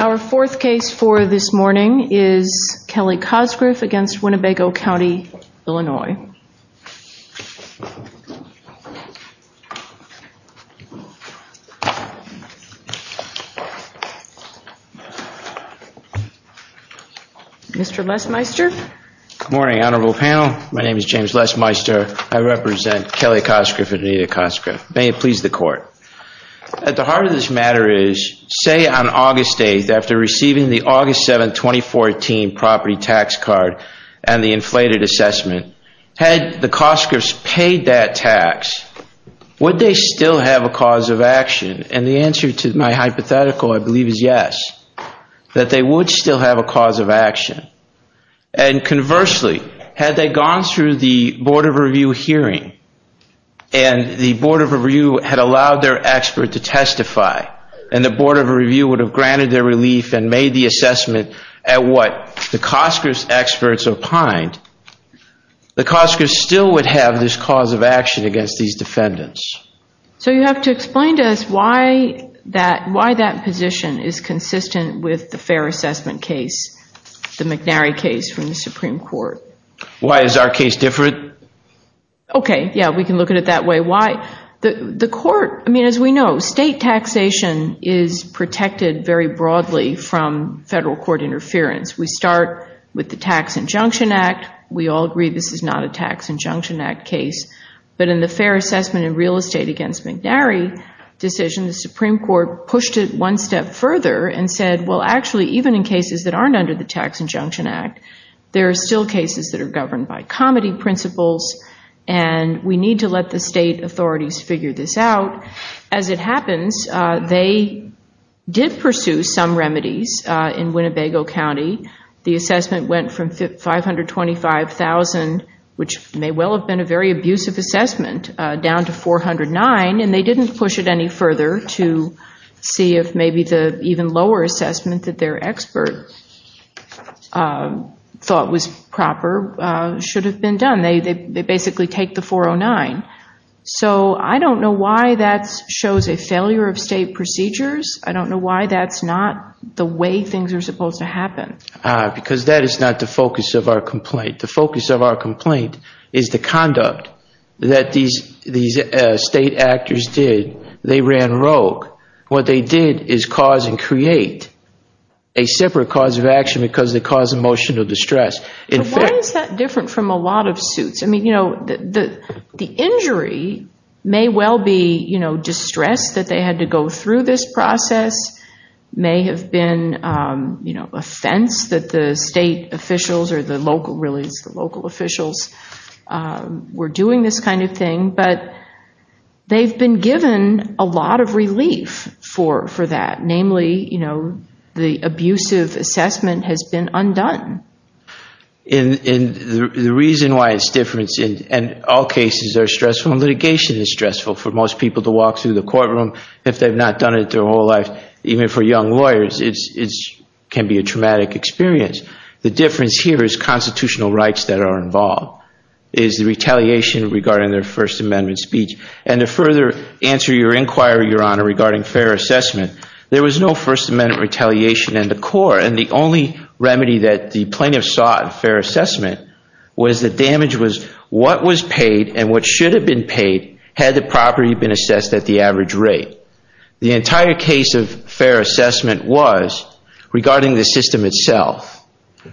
Our fourth case for this morning is Kelly Cosgriff against Winnebago County, Illinois. Mr. Lesmeister. Good morning, honorable panel. My name is James Lesmeister. I represent Kelly Cosgriff and Anita Cosgriff. May it please the court. At the heart of this matter is, say on August 8th, after receiving the August 7th, 2014 property tax card and the inflated assessment, had the Cosgriffs paid that tax, would they still have a cause of action? And the answer to my hypothetical, I believe, is yes, that they would still have a cause of action. And conversely, had they gone through the Board of Review hearing and the Board of Review had allowed their expert to testify and the Board of Review would have granted their relief and made the assessment at what the Cosgriffs experts opined, the Cosgriffs still would have this cause of action against these defendants. So you have to explain to us why that position is consistent with the fair assessment case, the McNary case from the Supreme Court. Why is our case different? Okay, yeah, we can look at it that way. The state taxation is protected very broadly from federal court interference. We start with the Tax Injunction Act. We all agree this is not a Tax Injunction Act case. But in the fair assessment in real estate against McNary decision, the Supreme Court pushed it one step further and said, well, actually, even in cases that aren't under the Tax Injunction Act, there are still cases that are governed by comity principles and we need to let the defendants, they did pursue some remedies in Winnebago County. The assessment went from 525,000, which may well have been a very abusive assessment, down to 409, and they didn't push it any further to see if maybe the even lower assessment that their expert thought was proper should have been done. They basically take the 409. So I don't know why that shows a failure of state procedures. I don't know why that's not the way things are supposed to happen. Because that is not the focus of our complaint. The focus of our complaint is the conduct that these state actors did. They ran rogue. What they did is cause and create a separate cause of action because they caused emotional distress. Why is that they had to go through this process? It may have been an offense that the state officials or the local officials were doing this kind of thing, but they've been given a lot of relief for that. Namely, the abusive assessment has been undone. The reason why it's different, and all cases are stressful and litigation is stressful for most people to walk through the courtroom. If they've not done it their whole life, even for young lawyers, it can be a traumatic experience. The difference here is constitutional rights that are involved, is the retaliation regarding their First Amendment speech. And to further answer your inquiry, Your Honor, regarding fair assessment, there was no First Amendment retaliation in the court. And the only remedy that the plaintiffs sought in fair assessment was that damage was what was paid and what should have been paid had the property been assessed at the average rate. The entire case of fair assessment was regarding the system itself.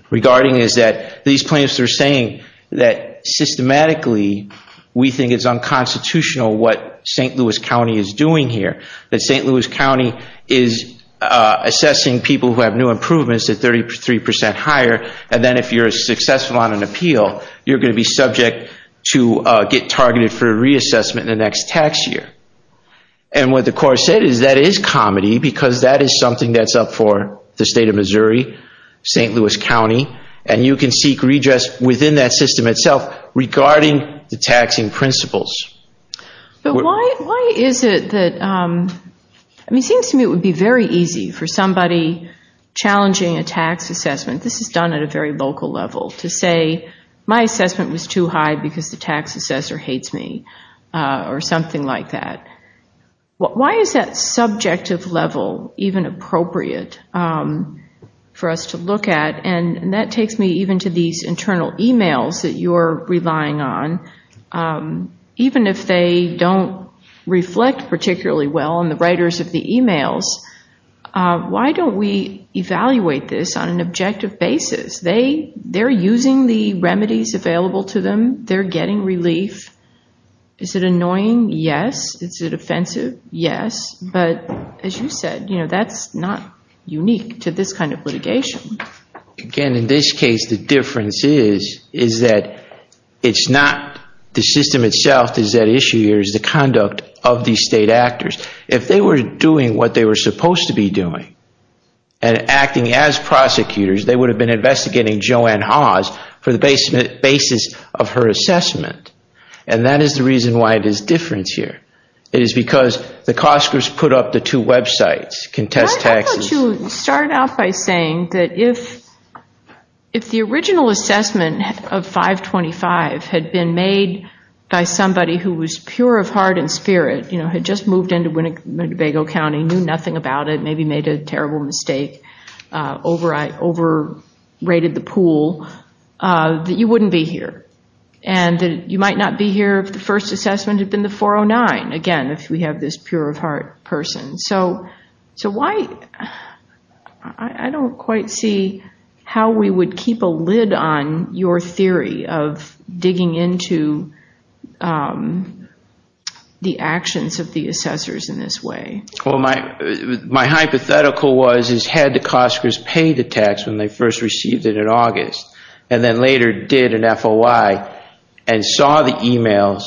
Regarding is that these plaintiffs are saying that systematically we think it's unconstitutional what St. Louis County is doing here. That St. Louis County is assessing people who have new improvements at 33% higher, and then if you're successful on an appeal, you're going to be subject to get targeted for reassessment in the next tax year. And what the court said is that is comedy, because that is something that's up for the state of Missouri, St. Louis County, and you can seek redress within that system itself regarding the taxing principles. But why is it that, I mean, it seems to me it would be very easy for somebody challenging a tax assessment, this is done at a very local level, to say my assessment was too high because the tax assessor hates me or something like that. Why is that subjective level even appropriate for us to look at? And that takes me even to these internal emails that you're relying on. Even if they don't reflect particularly well on the writers of the emails, why don't we evaluate this on an objective basis? They're using the remedies available to them. They're getting relief. Is it annoying? Yes. Is it offensive? Yes. But as you said, that's not unique to this kind of litigation. Again, in this case, the difference is that it's not the system itself that's at issue here, it's the conduct of the state actors. If they were doing what they were supposed to be doing and acting as prosecutors, they would have been investigating Joanne Hawes for the basis of her assessment. And that is the reason why there's a difference here. It is because the Costco's put up the two websites, Contest Taxes. I thought you started out by saying that if the original assessment of 525 had been made by somebody who was pure of heart and spirit, had just moved into Winnebago County, knew nothing about it, maybe made a terrible mistake, overrated the pool, that you wouldn't be here. And that you might not be here if the first assessment had been the 409. Again, if we have this pure of heart person. I don't quite see how we would keep a lid on your theory of digging into the actions of the assessors in this way. My hypothetical was, had the Costco's paid the tax when they first received it in August and then later did an FOI and saw the emails,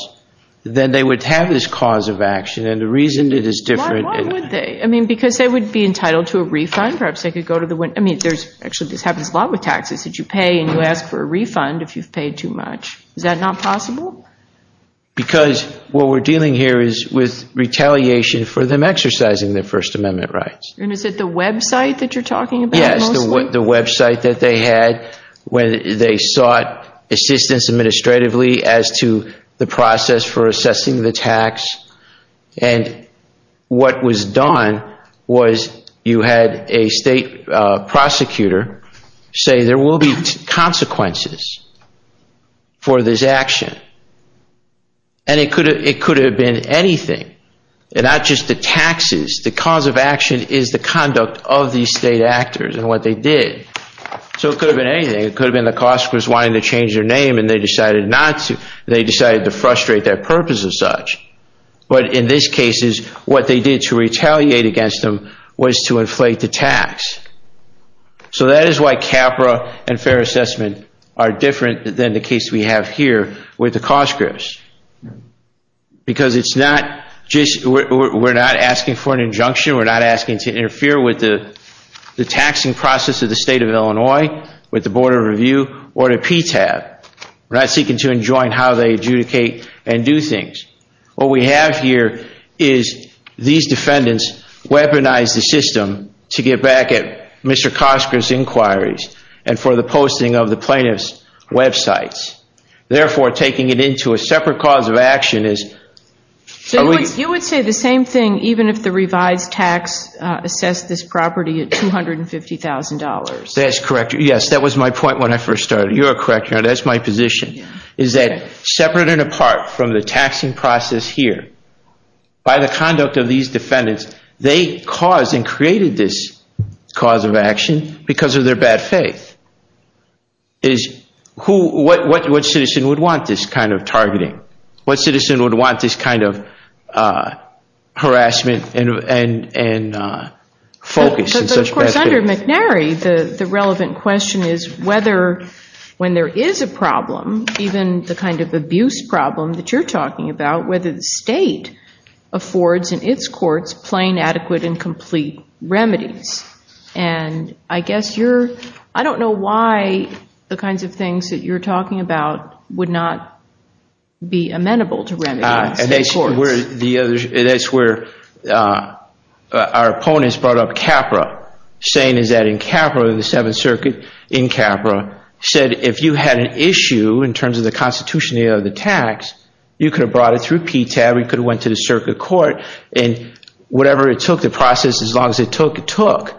then they would have this cause of action. And the reason it is different. Why would they? I mean, because they would be entitled to a refund. Perhaps they could go to the, I mean, there's actually, this happens a lot with taxes that you pay and you ask for a refund if you've paid too much. Is that not possible? Because what we're dealing here is with retaliation for them exercising their First Amendment rights. And is it the website that you're talking about? The website that they had when they sought assistance administratively as to the process for assessing the tax. And what was done was you had a state prosecutor say there will be consequences for this action. And it could have been anything. And not just the taxes. The cause of action is the conduct of these state actors and what they did. So it could have been anything. It could have been the Costco's wanting to change their name and they decided not to. They decided to frustrate their purpose as such. But in this case is what they did to retaliate against them was to inflate the tax. So that is why CAPRA and fair assessment are different than the case we have here with Because it's not just, we're not asking for an injunction. We're not asking to interfere with the taxing process of the state of Illinois with the Board of Review or the PTAB. We're not seeking to enjoin how they adjudicate and do things. What we have here is these defendants weaponized the system to get back at Mr. Costco's inquiries and for the posting of the plaintiff's websites. Therefore, taking it into a separate cause of action is You would say the same thing even if the revised tax assessed this property at $250,000. That's correct. Yes, that was my point when I first started. You're correct. That's my position. Is that separate and apart from the taxing process here, by the conduct of these defendants, they caused and created this cause of action because of their bad faith. What citizen would want this kind of targeting? What citizen would want this kind of harassment and focus? Of course, under McNary, the relevant question is whether when there is a problem, even the kind of abuse problem that you're talking about, whether the state affords in its courts plain, adequate, and complete remedies. I don't know why the kinds of things that you're talking about would not be amenable to remedies. That's where our opponents brought up Capra, saying that in Capra, the Seventh Circuit in Capra, said if you had an issue in terms of the constitutionality of the tax, you could have brought it through PTAB or you could have went to the circuit court. Whatever it took, the process, as long as it took, it took.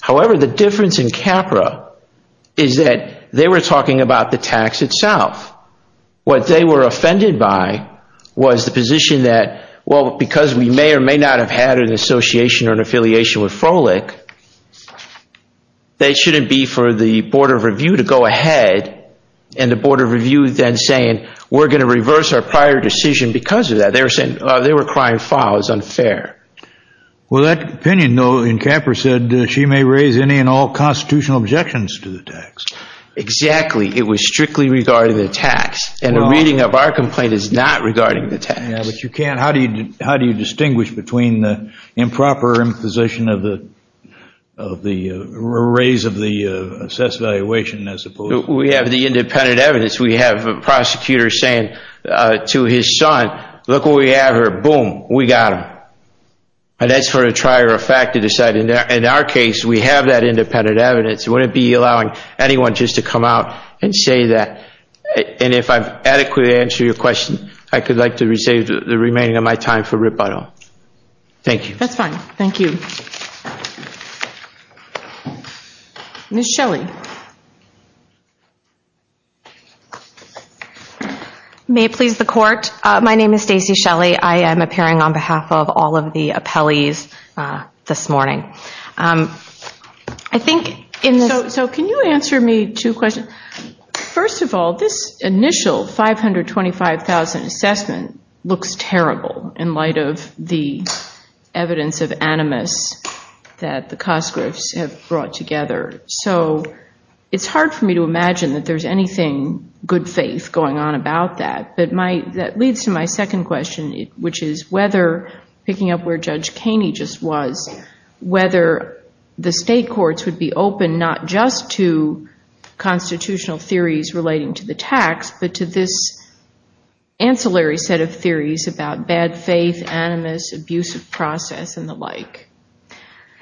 However, the difference in Capra is that they were talking about the tax itself. What they were offended by was the position that because we may or may not have had an association or an affiliation with Frolic, that it shouldn't be for the Board of Review to go ahead and the Board of Review then saying, we're going to reverse our prior decision because of that. They were crying foul. It was unfair. Well, that opinion, though, in Capra said she may raise any and all constitutional objections to the tax. Exactly. It was strictly regarding the tax, and a reading of our complaint is not regarding the tax. How do you distinguish between the improper imposition of the raise of the assessed valuation as opposed to... We have the independent evidence. We have a prosecutor saying to his son, look what we have here. Boom, we got him. And that's for a trier of fact to decide. In our case, we have that independent evidence. We wouldn't be allowing anyone just to come out and say that. And if I've adequately answered your question, I would like to reserve the remaining of my time for rebuttal. Thank you. That's fine. Thank you. Ms. Shelley. May it please the Court, my name is Stacey Shelley. I am appearing on behalf of all of the appellees this morning. So can you answer me two questions? First of all, this initial 525,000 assessment looks terrible in light of the evidence of animus that the Cosgroves have brought together. So it's hard for me to imagine that there's anything good faith going on about that. But that leads to my second question, which is whether, picking up where Judge Kaney just was, whether the state courts would be open not just to constitutional theories relating to the tax, but to this ancillary set of theories about bad faith, animus, abusive process, and the like.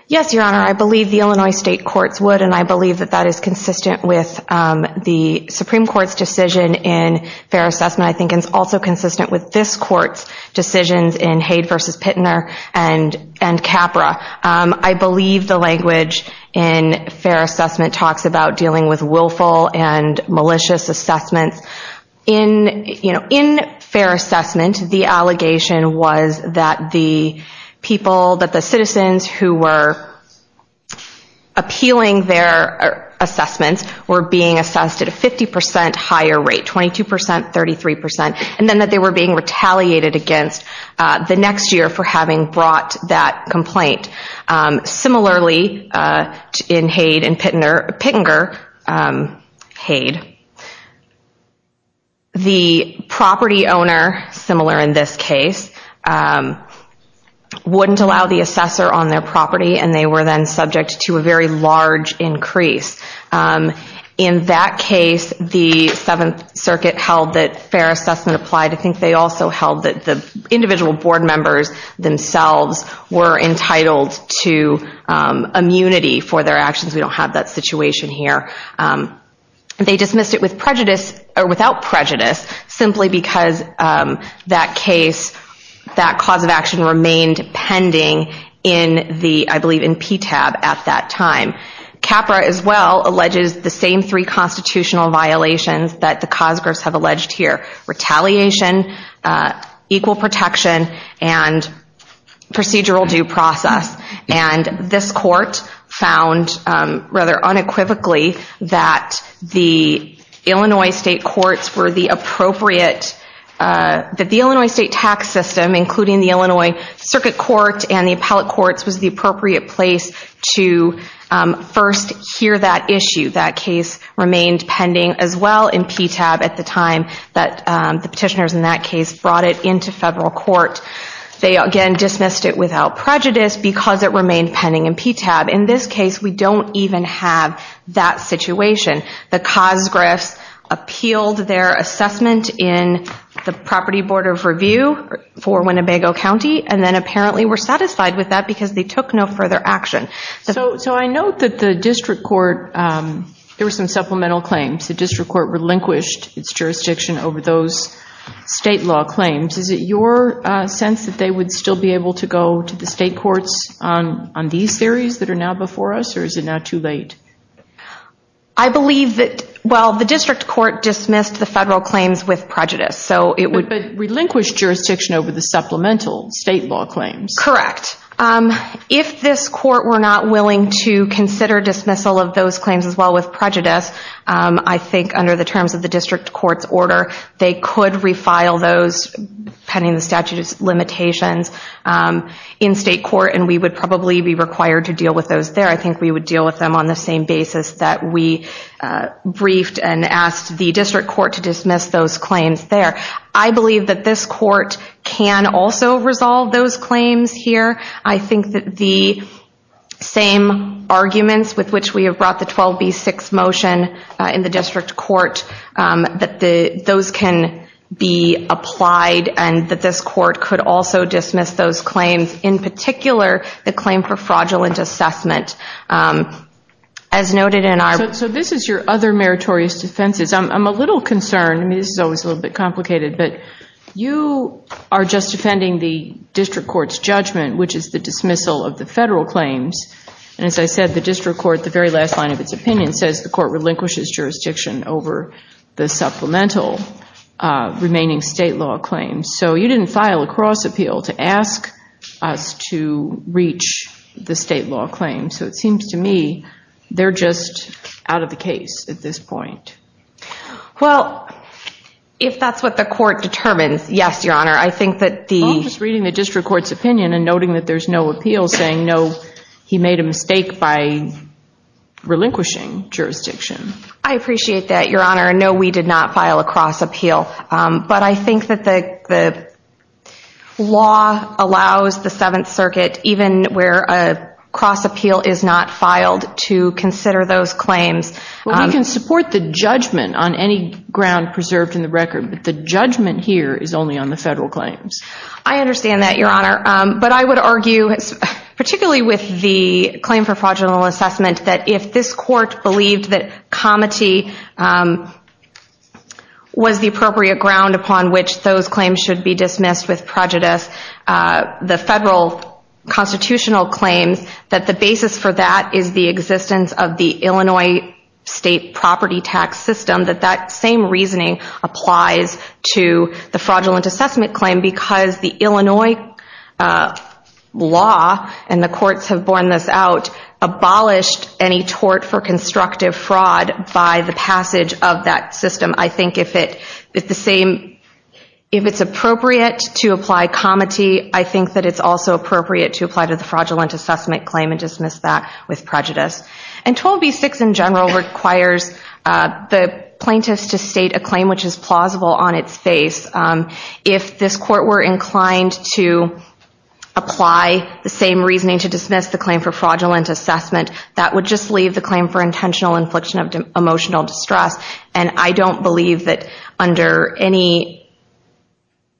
Yes, Your Honor, I believe the Illinois state courts would, and I believe that that is consistent with the Supreme Court's decision in fair assessment. I think it's also consistent with this Court's decisions in Haidt v. Pitner and Capra. I believe the language in fair assessment talks about dealing with willful and malicious assessments. In fair assessment, the allegation was that the citizens who were appealing their assessments were being assessed at a 50% higher rate, 22%, 33%, and then that they were being retaliated against the next year for having brought that complaint. Similarly, in Haidt v. Pitner, the property owner, similar in this case, wouldn't allow the assessor on their property, and they were then subject to a very large increase. In that case, the Seventh Circuit held that fair assessment applied. I think they also held that the individual board members themselves were entitled to immunity for their actions. We don't have that situation here. They dismissed it without prejudice simply because that case, that cause of action remained pending, I believe, in PTAB at that time. Capra, as well, alleges the same three constitutional violations that the cause groups have alleged here. Retaliation, equal protection, and procedural due process. This Court found, rather unequivocally, that the Illinois State tax system, including the Illinois Circuit Court and the Appellate Courts, was the appropriate place to first hear that issue. That case remained pending, as well, in PTAB at the time that the petitioners in that case brought it into federal court. They, again, dismissed it without prejudice because it remained pending in PTAB. In this case, we don't even have that situation. The cause groups appealed their assessment in the Property Board of Review for Winnebago County, and then apparently were satisfied with that because they took no further action. So I note that the District Court, there were some supplemental claims. The District Court relinquished its jurisdiction over those state law claims. Is it your sense that they would still be able to go to the state courts on these theories that are now before us, or is it now too late? I believe that, well, the District Court dismissed the federal claims with prejudice. But relinquished jurisdiction over the supplemental state law claims. Correct. If this court were not willing to consider dismissal of those claims as well with prejudice, I think under the terms of the District Court's order, they could refile those pending the statute of limitations in state court, and we would probably be required to deal with those there. I think we would deal with them on the same basis that we briefed and asked the District Court to dismiss those claims there. I believe that this court can also resolve those claims here. I think that the same arguments with which we have brought the 12B6 motion in the District Court, that those can be applied and that this court could also dismiss those claims, in particular the claim for fraudulent assessment. So this is your other meritorious defenses. I'm a little concerned. I mean, this is always a little bit complicated, but you are just defending the District Court's judgment, which is the dismissal of the federal claims. And as I said, the District Court, the very last line of its opinion, says the court relinquishes jurisdiction over the supplemental remaining state law claims. So you didn't file a cross appeal to ask us to reach the state law claims. So it seems to me they're just out of the case at this point. Well, if that's what the court determines, yes, Your Honor. I think that the- I'm just reading the District Court's opinion and noting that there's no appeal saying, no, he made a mistake by relinquishing jurisdiction. I appreciate that, Your Honor. No, we did not file a cross appeal. But I think that the law allows the Seventh Circuit, even where a cross appeal is not filed, to consider those claims. Well, we can support the judgment on any ground preserved in the record, but the judgment here is only on the federal claims. I understand that, Your Honor. But I would argue, particularly with the claim for fraudulent assessment, that if this court believed that comity was the appropriate ground upon which those claims should be dismissed with prejudice, the federal constitutional claims, that the basis for that is the existence of the Illinois state property tax system, that that same reasoning applies to the fraudulent assessment claim because the Illinois law, and the courts have borne this out, abolished any tort for constructive fraud by the passage of that system. I think if it's appropriate to apply comity, I think that it's also appropriate to apply to the fraudulent assessment claim and dismiss that with prejudice. And 12b-6 in general requires the plaintiffs to state a claim which is plausible on its face. If this court were inclined to apply the same reasoning to dismiss the claim for fraudulent assessment, that would just leave the claim for intentional infliction of emotional distress. And I don't believe that under any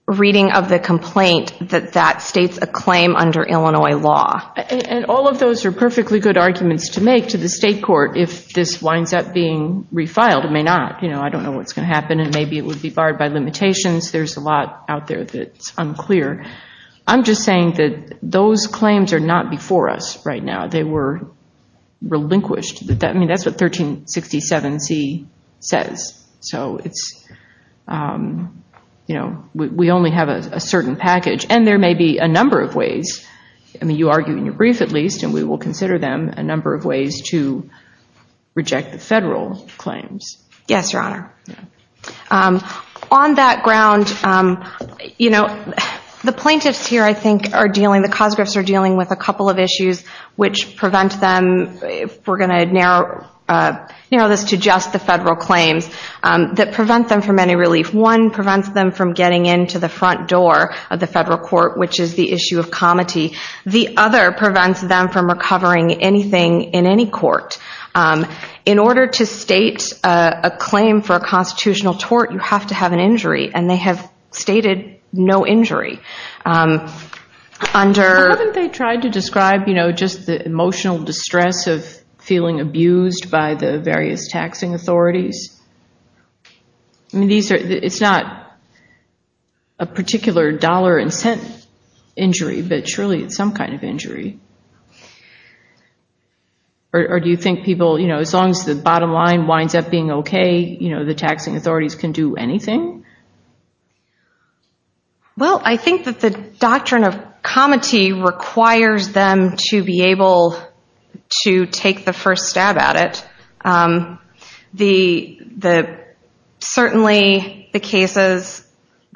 reading of the complaint that that states a claim under Illinois law. And all of those are perfectly good arguments to make to the state court if this winds up being refiled. It may not. I don't know what's going to happen and maybe it would be barred by limitations. There's a lot out there that's unclear. I'm just saying that those claims are not before us right now. They were relinquished. I mean, that's what 1367c says. So it's, you know, we only have a certain package. And there may be a number of ways. I mean, you argue in your brief, at least, and we will consider them a number of ways to reject the federal claims. Yes, Your Honor. On that ground, you know, the plaintiffs here, I think, are dealing, the Cosgriffs are dealing with a couple of issues which prevent them, if we're going to narrow this to just the federal claims, that prevent them from any relief. One prevents them from getting into the front door of the federal court, which is the issue of comity. The other prevents them from recovering anything in any court. In order to state a claim for a constitutional tort, you have to have an injury, and they have stated no injury. How haven't they tried to describe, you know, just the emotional distress of feeling abused by the various taxing authorities? I mean, it's not a particular dollar and cent injury, but surely it's some kind of injury. Or do you think people, you know, as long as the bottom line winds up being okay, you know, the taxing authorities can do anything? Well, I think that the doctrine of comity requires them to be able to take the first stab at it. Certainly the cases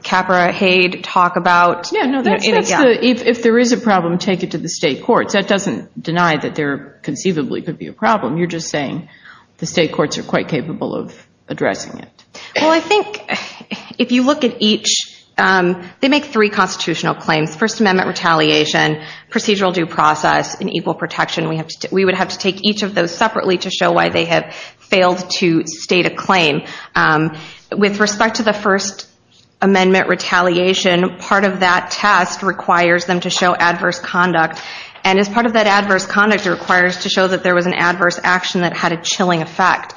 Capra, Haid talk about. If there is a problem, take it to the state courts. That doesn't deny that there conceivably could be a problem. You're just saying the state courts are quite capable of addressing it. Well, I think if you look at each, they make three constitutional claims, First Amendment retaliation, procedural due process, and equal protection. We would have to take each of those separately to show why they have failed to state a claim. With respect to the First Amendment retaliation, part of that test requires them to show adverse conduct. And as part of that adverse conduct, it requires to show that there was an adverse action that had a chilling effect.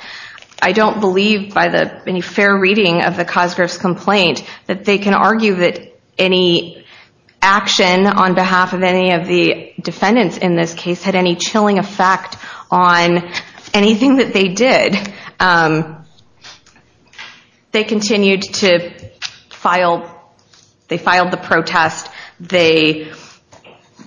I don't believe by any fair reading of the Cosgrove's complaint that they can argue that any action on behalf of any of the defendants in this case had any chilling effect on anything that they did. I think they continued to file the protest. They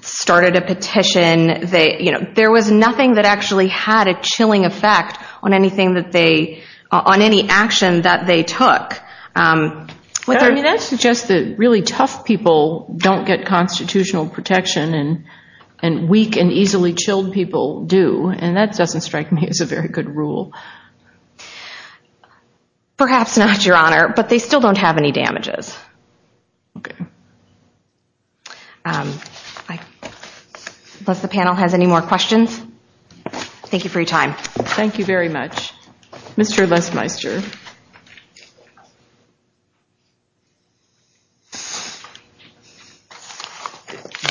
started a petition. There was nothing that actually had a chilling effect on anything that they, on any action that they took. That suggests that really tough people don't get constitutional protection and weak and easily chilled people do. And that doesn't strike me as a very good rule. Perhaps not, Your Honor, but they still don't have any damages. Okay. Unless the panel has any more questions. Thank you for your time. Thank you very much. Mr. Lesmeister.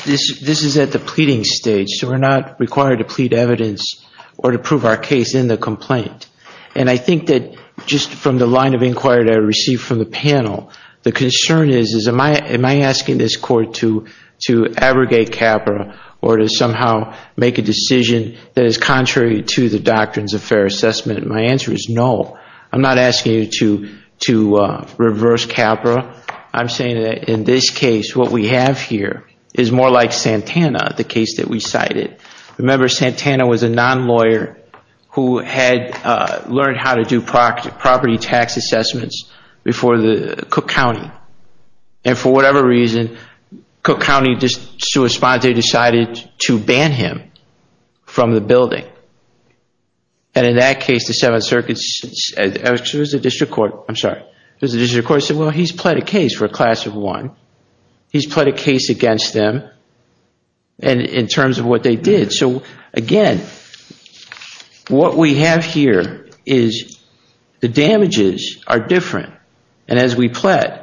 This is at the pleading stage, so we're not required to plead evidence or to prove our case in the complaint. And I think that just from the line of inquiry that I received from the panel, the concern is, am I asking this Court to abrogate Capra or to somehow make a decision that is contrary to the doctrines of fair assessment? And my answer is no. I'm not asking you to reverse Capra. I'm saying that in this case what we have here is more like Santana, the case that we cited. Remember, Santana was a non-lawyer who had learned how to do property tax assessments before the Cook County. And for whatever reason, Cook County, just to respond, they decided to ban him from the building. And in that case, the Seventh Circuit, the District Court, I'm sorry, the District Court said, well, he's pled a case for a class of one. He's pled a case against them in terms of what they did. So, again, what we have here is the damages are different. And as we pled,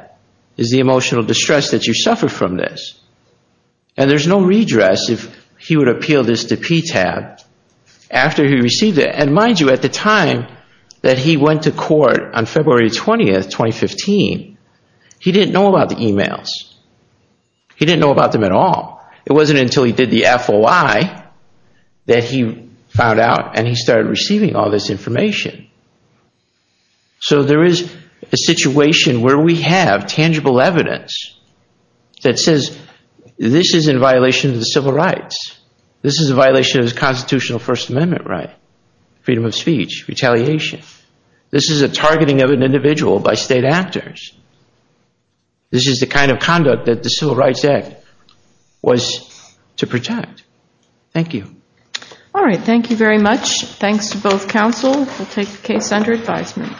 is the emotional distress that you suffer from this. And there's no redress if he would appeal this to PTAB after he received it. And mind you, at the time that he went to court on February 20, 2015, he didn't know about the emails. He didn't know about them at all. It wasn't until he did the FOI that he found out and he started receiving all this information. So there is a situation where we have tangible evidence that says, this is in violation of the civil rights. This is a violation of the constitutional First Amendment right, freedom of speech, retaliation. This is a targeting of an individual by state actors. This is the kind of conduct that the Civil Rights Act was to protect. Thank you. All right. Thank you very much. Thanks to both counsel. We'll take the case under advisement.